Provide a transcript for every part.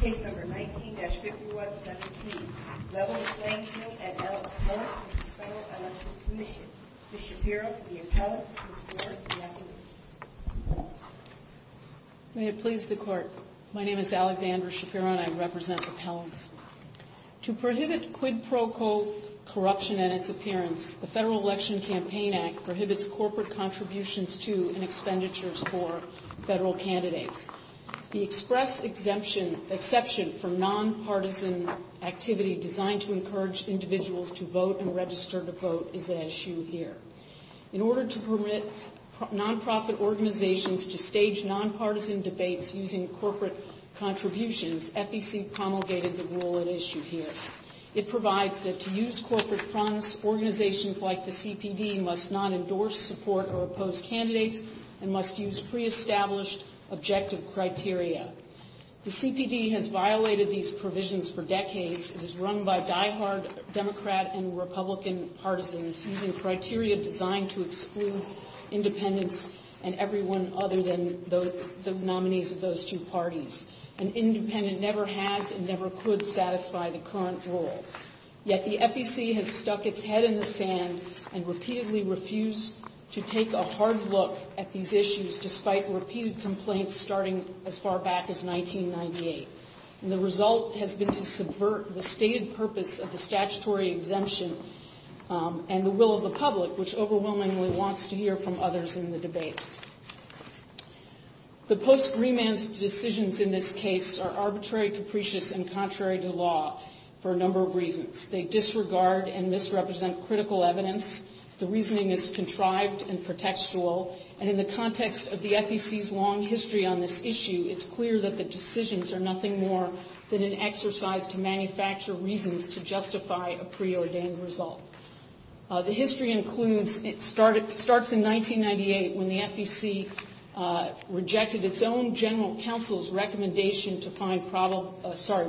Case No. 19-5117, Leveling the Playing Field at Appellants v. Federal Election Commission. Ms. Shapiro, the Appellants, and Ms. Bork, the Appellant. May it please the Court. My name is Alexandra Shapiro, and I represent Appellants. To prohibit quid pro quo corruption and its appearance, the Federal Election Campaign Act prohibits corporate contributions to and expenditures for federal candidates. The express exception for nonpartisan activity designed to encourage individuals to vote and register to vote is at issue here. In order to permit nonprofit organizations to stage nonpartisan debates using corporate contributions, FEC promulgated the rule at issue here. It provides that to use corporate funds, organizations like the CPD must not endorse, support, or oppose candidates and must use pre-established objective criteria. The CPD has violated these provisions for decades. It is run by diehard Democrat and Republican partisans using criteria designed to exclude independents and everyone other than the nominees of those two parties. An independent never has and never could satisfy the current rule. Yet the FEC has stuck its head in the sand and repeatedly refused to take a hard look at these issues despite repeated complaints starting as far back as 1998. And the result has been to subvert the stated purpose of the statutory exemption and the will of the public, which overwhelmingly wants to hear from others in the debates. The post-reman's decisions in this case are arbitrary, capricious, and contrary to law for a number of reasons. They disregard and misrepresent critical evidence. The reasoning is contrived and pretextual. And in the context of the FEC's long history on this issue, it's clear that the decisions are nothing more than an exercise to manufacture reasons to justify a preordained result. The history includes, it starts in 1998 when the FEC rejected its own general counsel's recommendation to find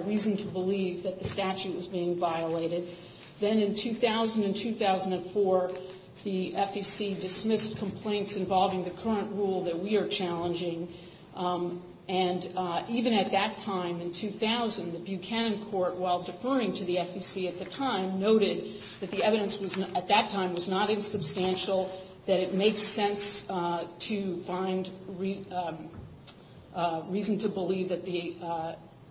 reason to believe that the statute was being violated. Then in 2000 and 2004, the FEC dismissed complaints involving the current rule that we are challenging. And even at that time, in 2000, the Buchanan Court, while deferring to the FEC at the time, noted that the evidence at that time was not insubstantial, that it makes sense to find reason to believe that the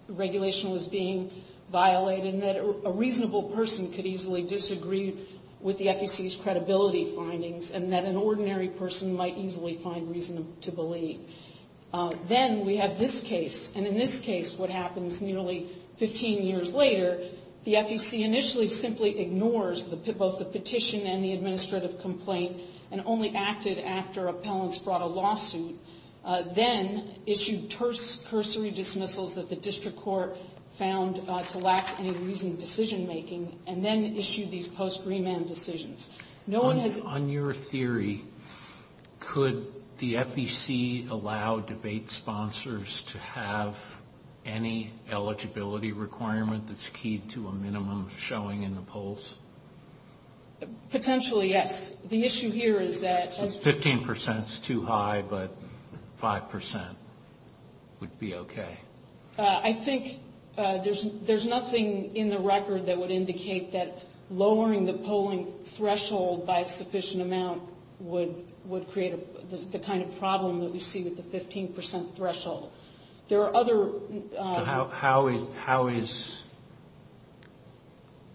regulation was being violated, and that a reasonable person could easily disagree with the FEC's credibility findings, and that an ordinary person might easily find reason to believe. Then we have this case. And in this case, what happens nearly 15 years later, the FEC initially simply ignores both the petition and the administrative complaint, and only acted after appellants brought a lawsuit, then issued cursory dismissals that the district court found to lack any reasoned decision-making, and then issued these post-remand decisions. No one has... On your theory, could the FEC allow debate sponsors to have any eligibility requirement that's key to a minimum showing in the polls? Potentially, yes. The issue here is that... 15% is too high, but 5% would be okay. I think there's nothing in the record that would indicate that lowering the polling threshold by a sufficient amount would create the kind of problem that we see with the 15% threshold. There are other... How is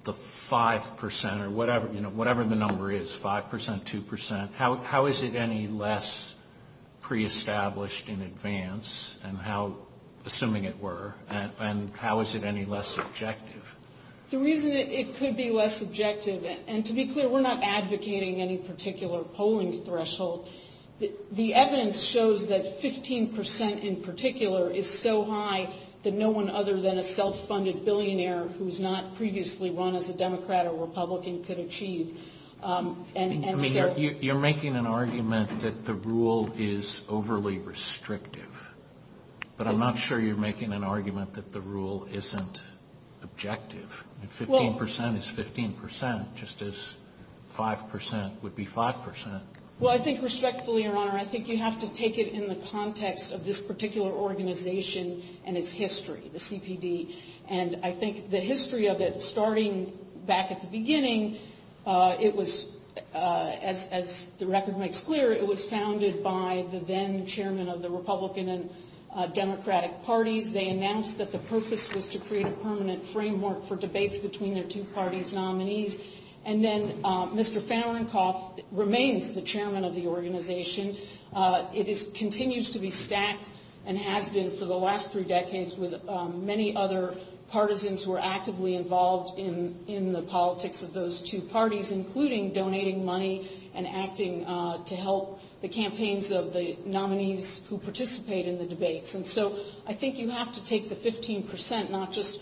the 5%, or whatever the number is, 5%, 2%? How is it any less pre-established in advance? And how, assuming it were, and how is it any less subjective? The reason it could be less subjective, and to be clear, we're not advocating any particular polling threshold. The evidence shows that 15% in particular is so high that no one other than a self-funded billionaire who's not previously run as a Democrat or Republican could achieve. And so... You're making an argument that the rule is overly restrictive. But I'm not sure you're making an argument that the rule isn't objective. 15% is 15%, just as 5% would be 5%. Well, I think respectfully, Your Honor, I think you have to take it in the context of this particular organization and its history, the CPD. And I think the history of it, starting back at the beginning, it was, as the record makes clear, it was founded by the then-chairman of the Republican and Democratic parties. They announced that the purpose was to create a permanent framework for debates between their two parties' nominees. And then Mr. Fahrenkopf remains the chairman of the organization. It continues to be stacked and has been for the last three decades with many other partisans who are actively involved in the politics of those two parties, including donating money and acting to help the campaigns of the nominees who participate in the debates. And so I think you have to take the 15%, not just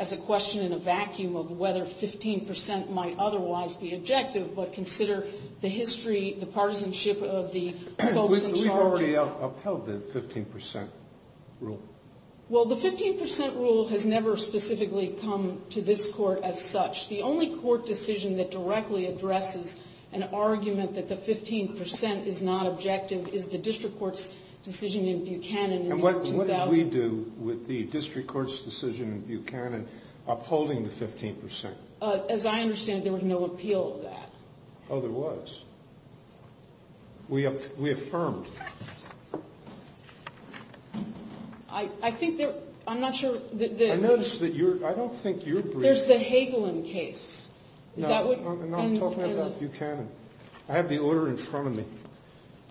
as a question in a vacuum of whether 15% might otherwise be objective, but consider the history, the partisanship of the folks in charge. We've already upheld the 15% rule. Well, the 15% rule has never specifically come to this Court as such. The only Court decision that directly addresses an argument that the 15% is not objective is the District Court's decision in Buchanan in the year 2000. And what did we do with the District Court's decision in Buchanan upholding the 15%? As I understand, there was no appeal of that. Oh, there was. We affirmed. I think there – I'm not sure – I notice that you're – I don't think you're briefing. There's the Hagelin case. Is that what – No, I'm talking about Buchanan. I have the order in front of me.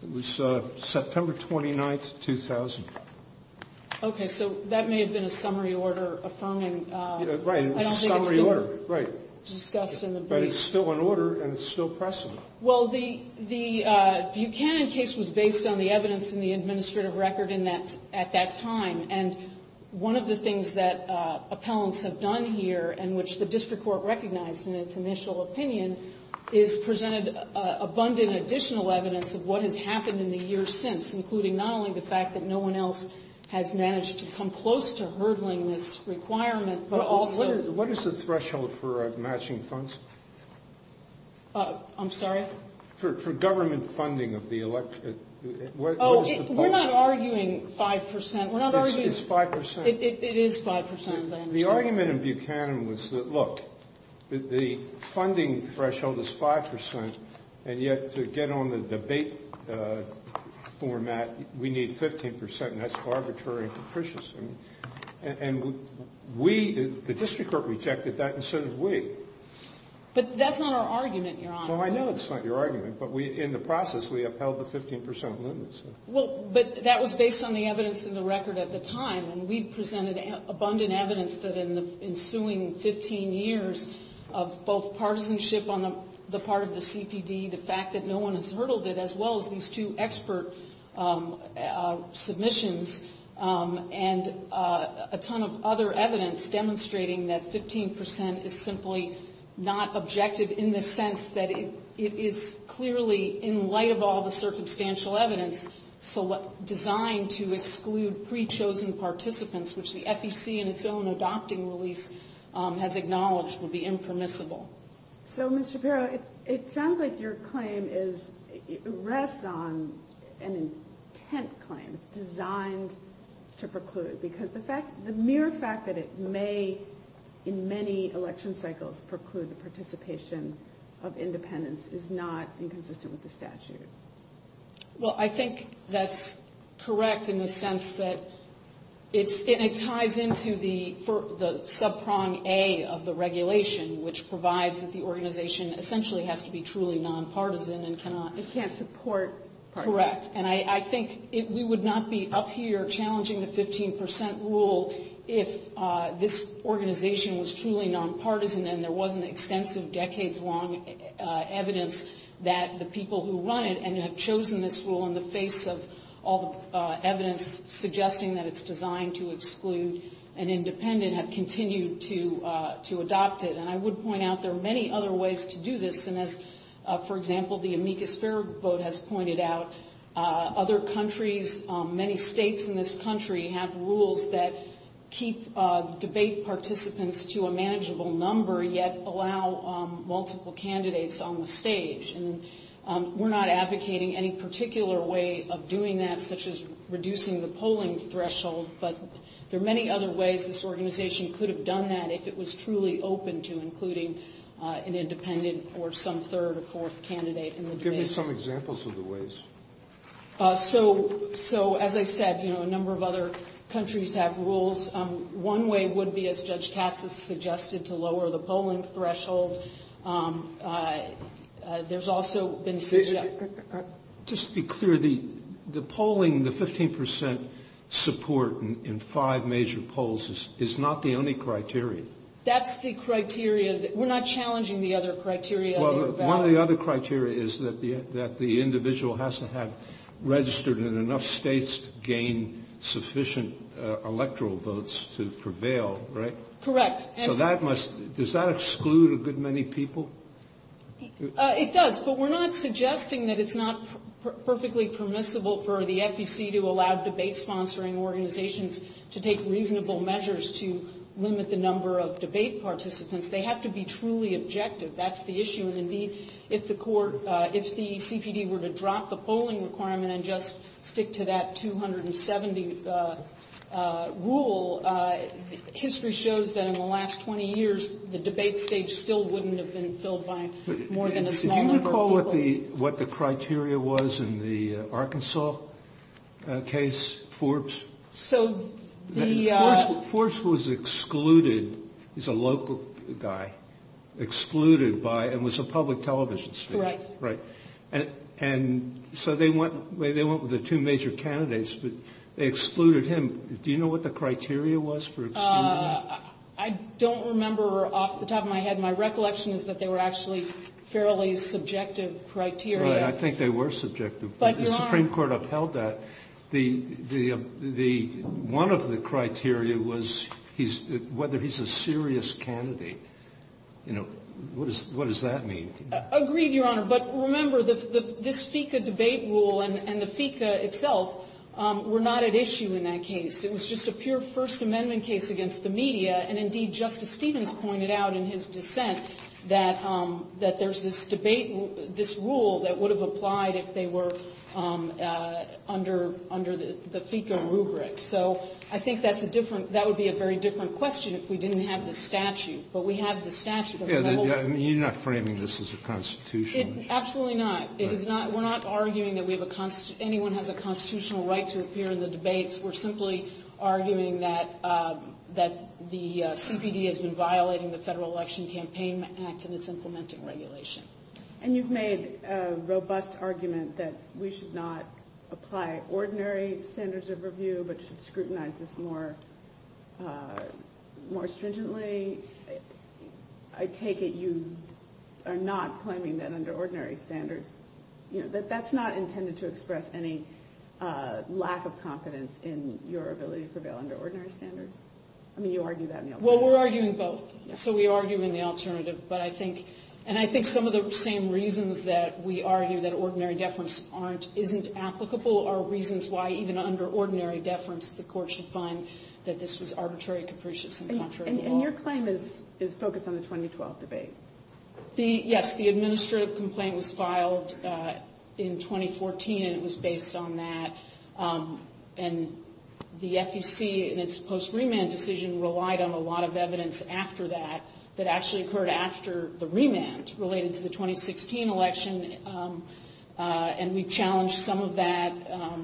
It was September 29, 2000. Okay, so that may have been a summary order affirming – Right, it was a summary order, right. I don't think it's been discussed in the brief. But it's still an order and it's still pressing. Well, the Buchanan case was based on the evidence in the administrative record at that time. And one of the things that appellants have done here and which the District Court recognized in its initial opinion is presented abundant additional evidence of what has happened in the years since, including not only the fact that no one else has managed to come close to hurdling this requirement, but also – What is the threshold for matching funds? I'm sorry? For government funding of the elect – Oh, we're not arguing 5%. We're not arguing – It's 5%. It is 5%, as I understand it. The argument in Buchanan was that, look, the funding threshold is 5%, and yet to get on the debate format, we need 15%, and that's arbitrary and capricious. And we – the District Court rejected that and so did we. But that's not our argument, Your Honor. Well, I know it's not your argument, but in the process we upheld the 15% limit. Well, but that was based on the evidence in the record at the time, and we presented abundant evidence that in the ensuing 15 years of both partisanship on the part of the CPD, the fact that no one has hurdled it, as well as these two expert submissions and a ton of other evidence demonstrating that 15% is simply not objective in the sense that it is clearly, in light of all the circumstantial evidence, designed to exclude pre-chosen participants, which the FEC in its own adopting release has acknowledged would be impermissible. So, Ms. Shapiro, it sounds like your claim is – rests on an intent claim designed to preclude, because the mere fact that it may, in many election cycles, preclude the participation of independents is not inconsistent with the statute. Well, I think that's correct in the sense that it ties into the sub-prong A of the regulation, which provides that the organization essentially has to be truly nonpartisan and cannot – It can't support partisanship. Correct. And I think we would not be up here challenging the 15% rule if this organization was truly nonpartisan and there wasn't extensive, decades-long evidence that the people who run it and have chosen this rule in the face of all the evidence suggesting that it's designed to exclude an independent have continued to adopt it. And I would point out there are many other ways to do this. And as, for example, the amicus ferro vote has pointed out, other countries, many states in this country have rules that keep debate participants to a manageable number yet allow multiple candidates on the stage. And we're not advocating any particular way of doing that, such as reducing the polling threshold, but there are many other ways this organization could have done that if it was truly open to including an independent or some third or fourth candidate in the debates. Give me some examples of the ways. So, as I said, you know, a number of other countries have rules. One way would be, as Judge Katz has suggested, to lower the polling threshold. There's also been – Just to be clear, the polling, the 15% support in five major polls is not the only criteria. That's the criteria. We're not challenging the other criteria. Well, one of the other criteria is that the individual has to have registered in enough states to gain sufficient electoral votes to prevail, right? Correct. So that must – does that exclude a good many people? It does, but we're not suggesting that it's not perfectly permissible for the FEC to allow debate sponsoring organizations to take reasonable measures to limit the number of debate participants. They have to be truly objective. That's the issue, and indeed, if the court – if the CPD were to drop the polling requirement and just stick to that 270 rule, history shows that in the last 20 years, the debate stage still wouldn't have been filled by more than a small number of people. Do you recall what the criteria was in the Arkansas case, Forbes? So the – Forbes was excluded – he's a local guy – excluded by – and was a public television station. Right. Right. And so they went – they went with the two major candidates, but they excluded him. Do you know what the criteria was for excluding him? I don't remember off the top of my head. My recollection is that they were actually fairly subjective criteria. Right. I think they were subjective. But Your Honor – But the criteria was whether he's a serious candidate. You know, what does that mean? Agreed, Your Honor. But remember, this FECA debate rule and the FECA itself were not at issue in that case. It was just a pure First Amendment case against the media. And indeed, Justice Stevens pointed out in his dissent that there's this debate – this rule that would have applied if they were under the FECA rubric. So I think that's a different – that would be a very different question if we didn't have the statute. But we have the statute. Yeah, but you're not framing this as a constitutional issue. Absolutely not. It is not – we're not arguing that we have a – anyone has a constitutional right to appear in the debates. We're simply arguing that the CPD has been violating the Federal Election Campaign Act and its implementing regulation. And you've made a robust argument that we should not apply ordinary standards of review but should scrutinize this more stringently. I take it you are not claiming that under ordinary standards – that that's not intended to express any lack of confidence in your ability to prevail under ordinary standards? I mean, you argue that in your – Well, we're arguing both. So we argue in the alternative. But I think – and I think some of the same reasons that we argue that ordinary deference aren't – isn't applicable are reasons why even under ordinary deference the Court should find that this was arbitrary, capricious, and contrary to law. And your claim is focused on the 2012 debate? Yes. The administrative complaint was filed in 2014, and it was based on that. And the FEC in its post-remand decision relied on a lot of evidence after that that actually occurred after the remand related to the 2016 election. And we challenged some of that,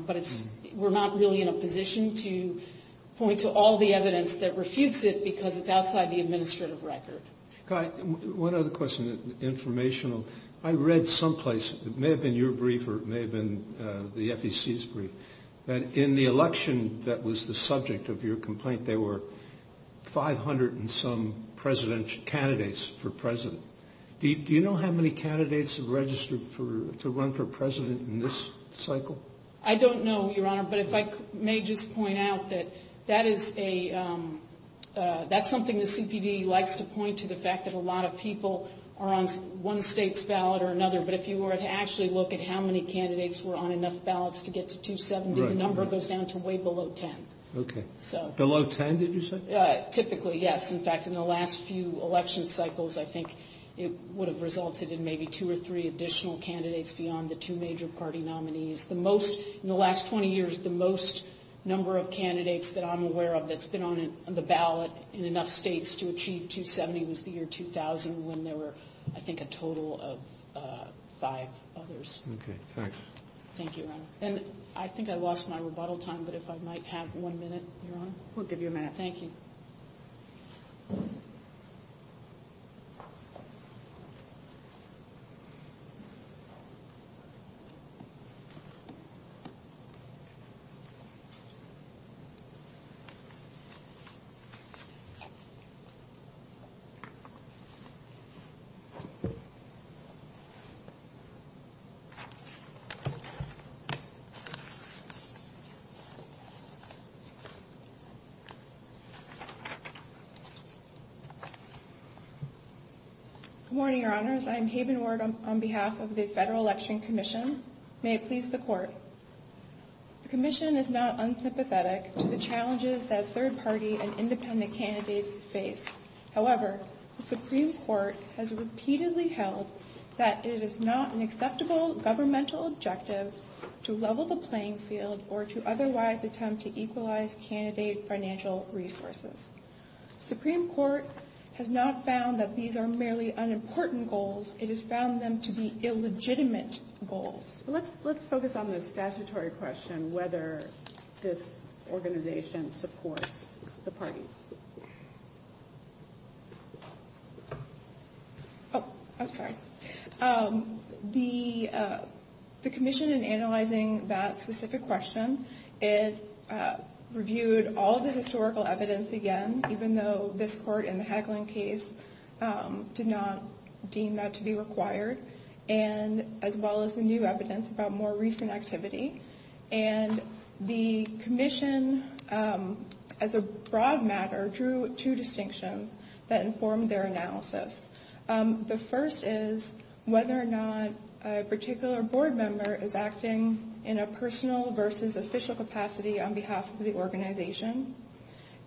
but it's – we're not really in a position to point to all the evidence that refutes it because it's outside the administrative record. Guy, one other question, informational. I read someplace – it may have been your brief or it may have been the FEC's brief – that in the election that was the subject of your complaint, there were 500 and some presidential – candidates for president. Do you know how many candidates have registered for – to run for president in this cycle? I don't know, Your Honor, but if I may just point out that that is a – that's something the CPD likes to point to, the fact that a lot of people are on one state's ballot or another. But if you were to actually look at how many candidates were on enough ballots to get to 270, the number goes down to way below 10. Okay. So – Below 10, did you say? Typically, yes. In fact, in the last few election cycles, I think it would have resulted in maybe two or three additional candidates beyond the two major party nominees. The most – in the last 20 years, the most number of candidates that I'm aware of that's been on the ballot in enough states to achieve 270 was the year 2000 when there were, I think, a total of five others. Okay. Thanks. Thank you, Your Honor. And I think I lost my rebuttal time, but if I might have one minute, Your Honor. We'll give you a minute. Thank you. Thank you. Good morning, Your Honors. I am Haven Ward on behalf of the Federal Election Commission. May it please the Court. The Commission is not unsympathetic to the challenges that third party and independent candidates face. However, the Supreme Court has repeatedly held that it is not an acceptable governmental objective to level the playing field or to otherwise attempt to equalize candidate financial resources. The Supreme Court has not found that these are merely unimportant goals. It has found them to be illegitimate goals. Let's focus on the statutory question, whether this organization supports the parties. Oh, I'm sorry. The Commission, in analyzing that specific question, it reviewed all the historical evidence again, even though this Court in the Hagelin case did not deem that to be required, as well as the new evidence about more recent activity. And the Commission, as a broad matter, drew two distinctions that informed their analysis. The first is whether or not a particular board member is acting in a personal versus official capacity on behalf of the organization.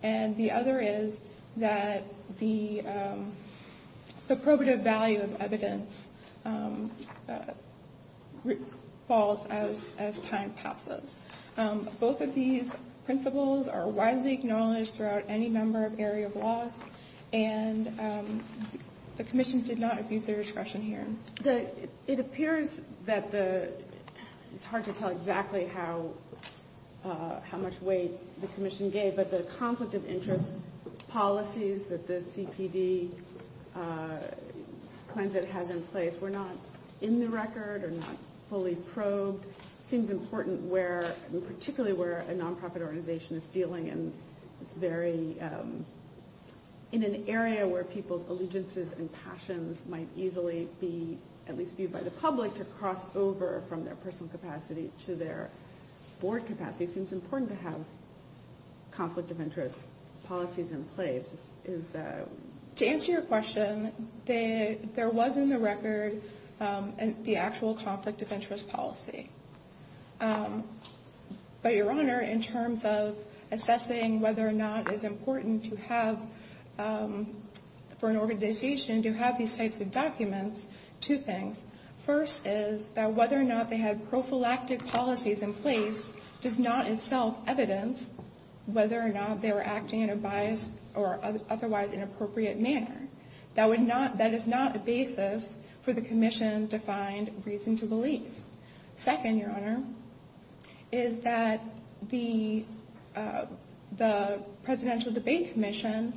And the other is that the probative value of evidence falls as time passes. Both of these principles are widely acknowledged throughout any number of area of laws, and the Commission did not abuse their discretion here. It appears that the – it's hard to tell exactly how much weight the Commission gave, but the conflict of interest policies that the CPD claims it has in place were not in the record or not fully probed. It seems important where – particularly where a nonprofit organization is dealing in this very – in an area where people's allegiances and passions might easily be, at least viewed by the public, to cross over from their personal capacity to their board capacity. It seems important to have conflict of interest policies in place. To answer your question, there was in the record the actual conflict of interest policy. But, Your Honor, in terms of assessing whether or not it's important to have – for an organization to have these types of documents, two things. First is that whether or not they had prophylactic policies in place does not itself evidence whether or not they were acting in a biased or otherwise inappropriate manner. That would not – that is not a basis for the Commission to find reason to believe. Second, Your Honor, is that the Presidential Debate Commission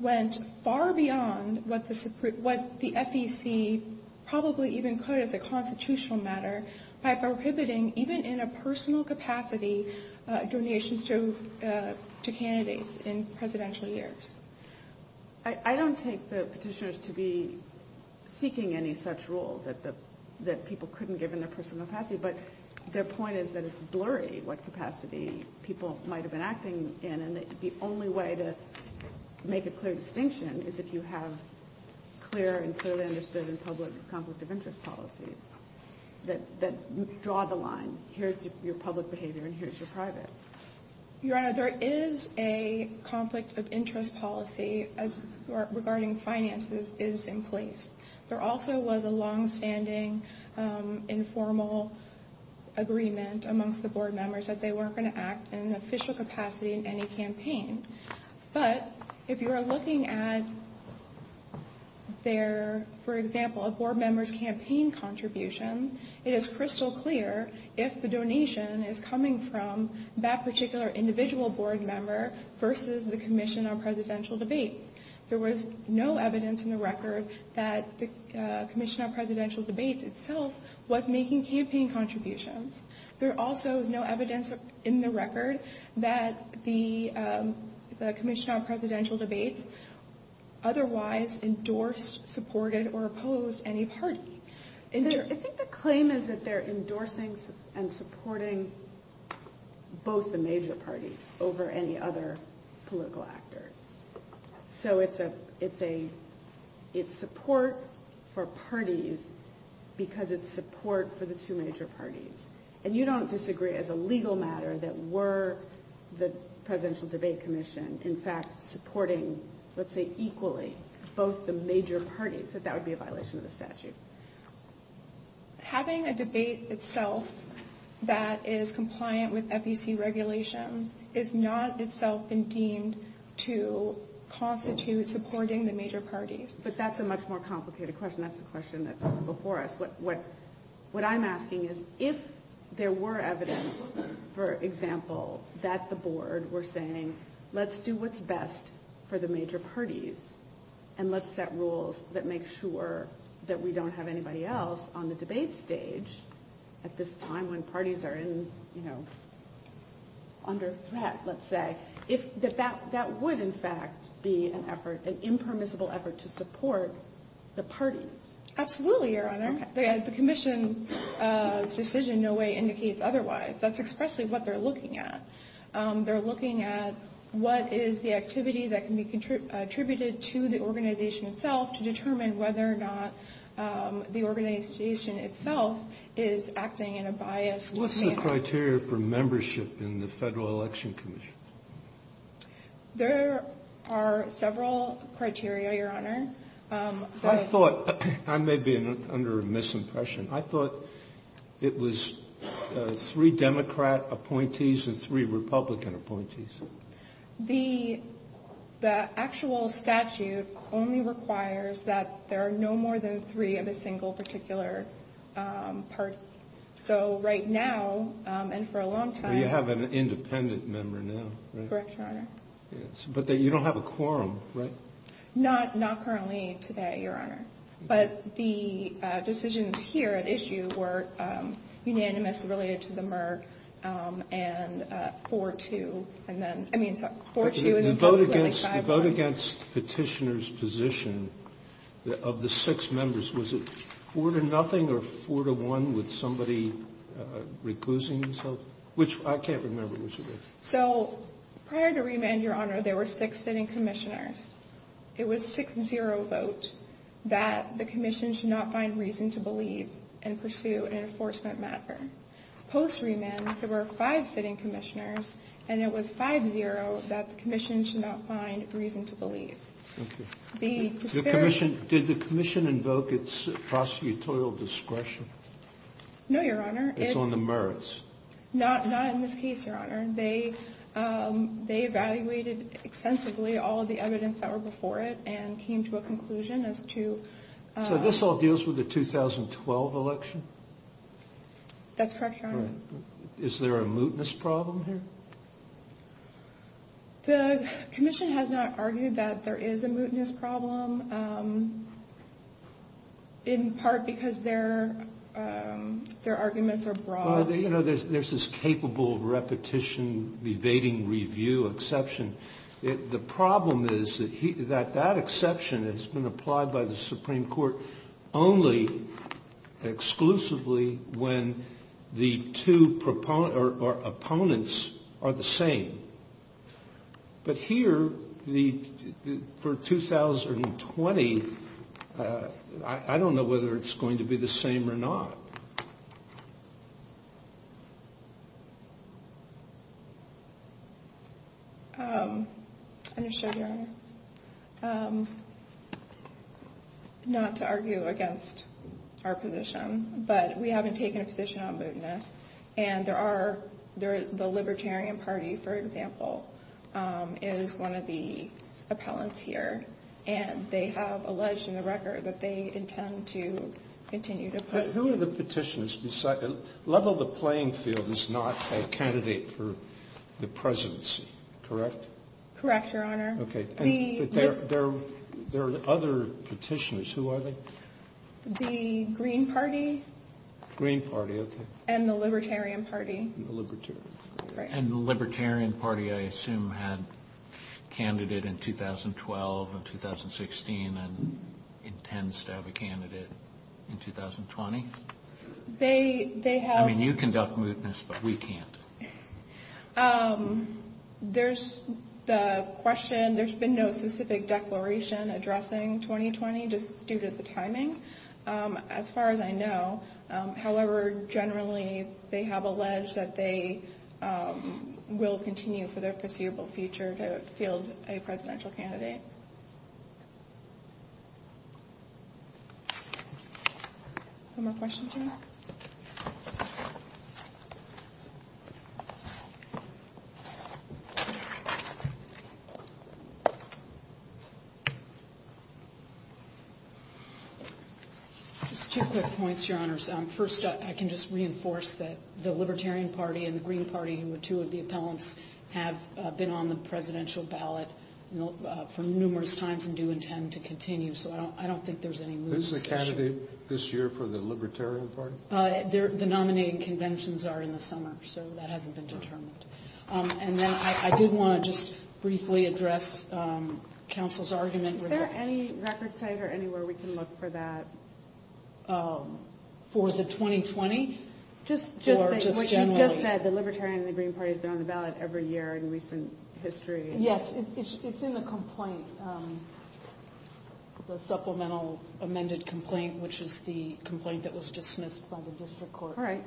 went far beyond what the FEC probably even could as a constitutional matter by prohibiting, even in a personal capacity, donations to candidates in presidential years. I don't take the petitioners to be seeking any such rule that people couldn't give in their personal capacity. But their point is that it's blurry what capacity people might have been acting in. And the only way to make a clear distinction is if you have clear and clearly understood and public conflict of interest policies that draw the line. Here's your public behavior and here's your private. Your Honor, there is a conflict of interest policy regarding finances is in place. There also was a longstanding informal agreement amongst the board members that they weren't going to act in an official capacity in any campaign. But if you are looking at their, for example, a board member's campaign contributions, it is crystal clear if the donation is coming from that particular individual board member versus the Commission on Presidential Debates. There was no evidence in the record that the Commission on Presidential Debates itself was making campaign contributions. There also is no evidence in the record that the Commission on Presidential Debates otherwise endorsed, supported, or opposed any party. I think the claim is that they're endorsing and supporting both the major parties over any other political actors. So it's support for parties because it's support for the two major parties. And you don't disagree as a legal matter that were the Presidential Debate Commission, in fact, supporting, let's say, equally, both the major parties, that that would be a violation of the statute. Having a debate itself that is compliant with FEC regulations is not itself been deemed to constitute supporting the major parties. But that's a much more complicated question. That's the question that's before us. What I'm asking is if there were evidence, for example, that the board were saying, let's do what's best for the major parties, and let's set rules that make sure that we don't have anybody else on the debate stage at this time when parties are in, you know, under threat, let's say, that that would, in fact, be an effort, an impermissible effort to support the parties. Absolutely, Your Honor. As the Commission's decision in no way indicates otherwise. That's expressly what they're looking at. They're looking at what is the activity that can be attributed to the organization itself to determine whether or not the organization itself is acting in a biased manner. What's the criteria for membership in the Federal Election Commission? There are several criteria, Your Honor. I thought, I may be under a misimpression, I thought it was three Democrat appointees and three Republican appointees. The actual statute only requires that there are no more than three of a single particular party. So right now, and for a long time. You have an independent member now. Correct, Your Honor. But you don't have a quorum, right? Not currently today, Your Honor. But the decisions here at issue were unanimous related to the Merck and 4-2 and then, I mean, 4-2 and then 5-1. The vote against Petitioner's position of the six members, was it 4-0 or 4-1 with somebody recusing himself? Which, I can't remember which it was. So prior to Remand, Your Honor, there were six sitting Commissioners. It was 6-0 vote that the Commission should not find reason to believe and pursue an enforcement matter. Post-Remand, there were five sitting Commissioners, and it was 5-0 that the Commission should not find reason to believe. Thank you. Did the Commission invoke its prosecutorial discretion? No, Your Honor. It's on the merits. Not in this case, Your Honor. They evaluated extensively all of the evidence that were before it and came to a conclusion as to... So this all deals with the 2012 election? That's correct, Your Honor. Is there a mootness problem here? The Commission has not argued that there is a mootness problem, in part because their arguments are broad. You know, there's this capable repetition, evading review exception. The problem is that that exception has been applied by the Supreme Court only exclusively when the two opponents are the same. But here, for 2020, I don't know whether it's going to be the same or not. Not to argue against our position, but we haven't taken a position on mootness. And the Libertarian Party, for example, is one of the appellants here, and they have alleged in the record that they intend to continue to... But who are the petitioners? Lovell, the playing field, is not a candidate for the presidency, correct? Correct, Your Honor. Okay. There are other petitioners. Who are they? The Green Party. Green Party, okay. And the Libertarian Party. And the Libertarian Party, I assume, had a candidate in 2012 and 2016 and intends to have a candidate in 2020? They have... I mean, you conduct mootness, but we can't. There's the question. There's been no specific declaration addressing 2020, just due to the timing, as far as I know. However, generally, they have alleged that they will continue for their foreseeable future to field a presidential candidate. Okay. No more questions, Your Honor? Just two quick points, Your Honors. First, I can just reinforce that the Libertarian Party and the Green Party, who are two of the appellants, have been on the presidential ballot for numerous times and do intend to continue. So I don't think there's any mootness. This is a candidate this year for the Libertarian Party? The nominating conventions are in the summer, so that hasn't been determined. And then I did want to just briefly address counsel's argument. Is there any record site or anywhere we can look for that? For the 2020? Or just generally? What you just said, the Libertarian and the Green Party have been on the ballot every year in recent history. Yes, it's in the complaint, the supplemental amended complaint, which is the complaint that was dismissed by the district court. All right.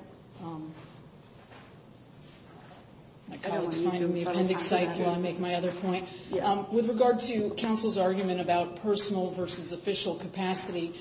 My colleague's finding the appendix site, so I'll make my other point. With regard to counsel's argument about personal versus official capacity,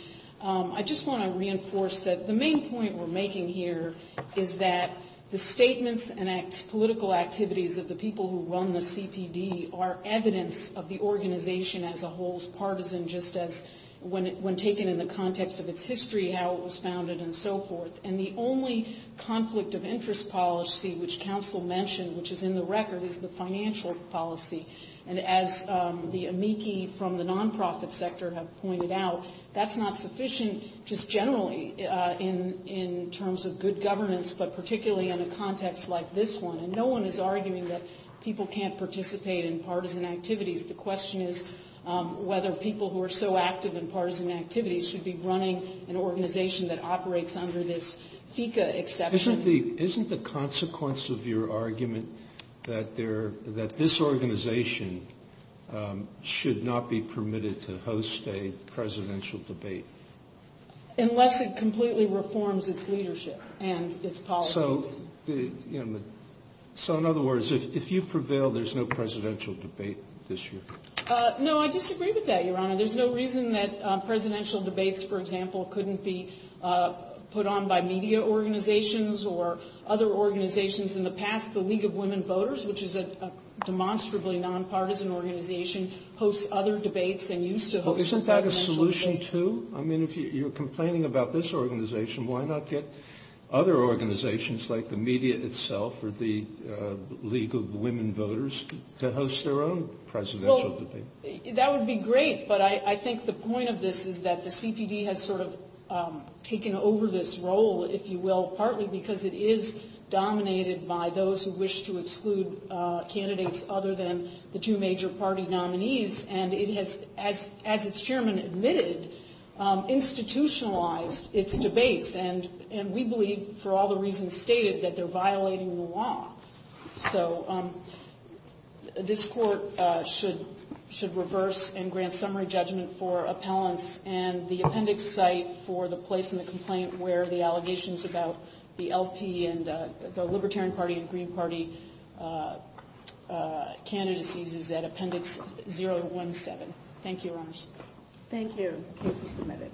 I just want to reinforce that the main point we're making here is that the statements and political activities of the people who run the CPD are evidence of the organization as a whole's partisan, just as when taken in the context of its history, how it was founded, and so forth. And the only conflict of interest policy which counsel mentioned, which is in the record, is the financial policy. And as the amici from the nonprofit sector have pointed out, that's not sufficient just generally in terms of good governance, but particularly in a context like this one. And no one is arguing that people can't participate in partisan activities. The question is whether people who are so active in partisan activities should be running an organization that operates under this FECA exception. Isn't the consequence of your argument that this organization should not be permitted to host a presidential debate? Unless it completely reforms its leadership and its policies. So in other words, if you prevail, there's no presidential debate this year? No, I disagree with that, Your Honor. There's no reason that presidential debates, for example, couldn't be put on by media organizations or other organizations. In the past, the League of Women Voters, which is a demonstrably nonpartisan organization, hosts other debates than used to host presidential debates. Well, isn't that a solution, too? I mean, if you're complaining about this organization, why not get other organizations like the media itself or the League of Women Voters to host their own presidential debate? Well, that would be great, but I think the point of this is that the CPD has sort of taken over this role, if you will, partly because it is dominated by those who wish to exclude candidates other than the two major party nominees. And it has, as its chairman admitted, institutionalized its debates. And we believe, for all the reasons stated, that they're violating the law. So this court should reverse and grant summary judgment for appellants. And the appendix site for the place in the complaint where the allegations about the LP and the Libertarian Party and Green Party candidacies is at appendix 017. Thank you, Your Honors. Thank you. The case is submitted.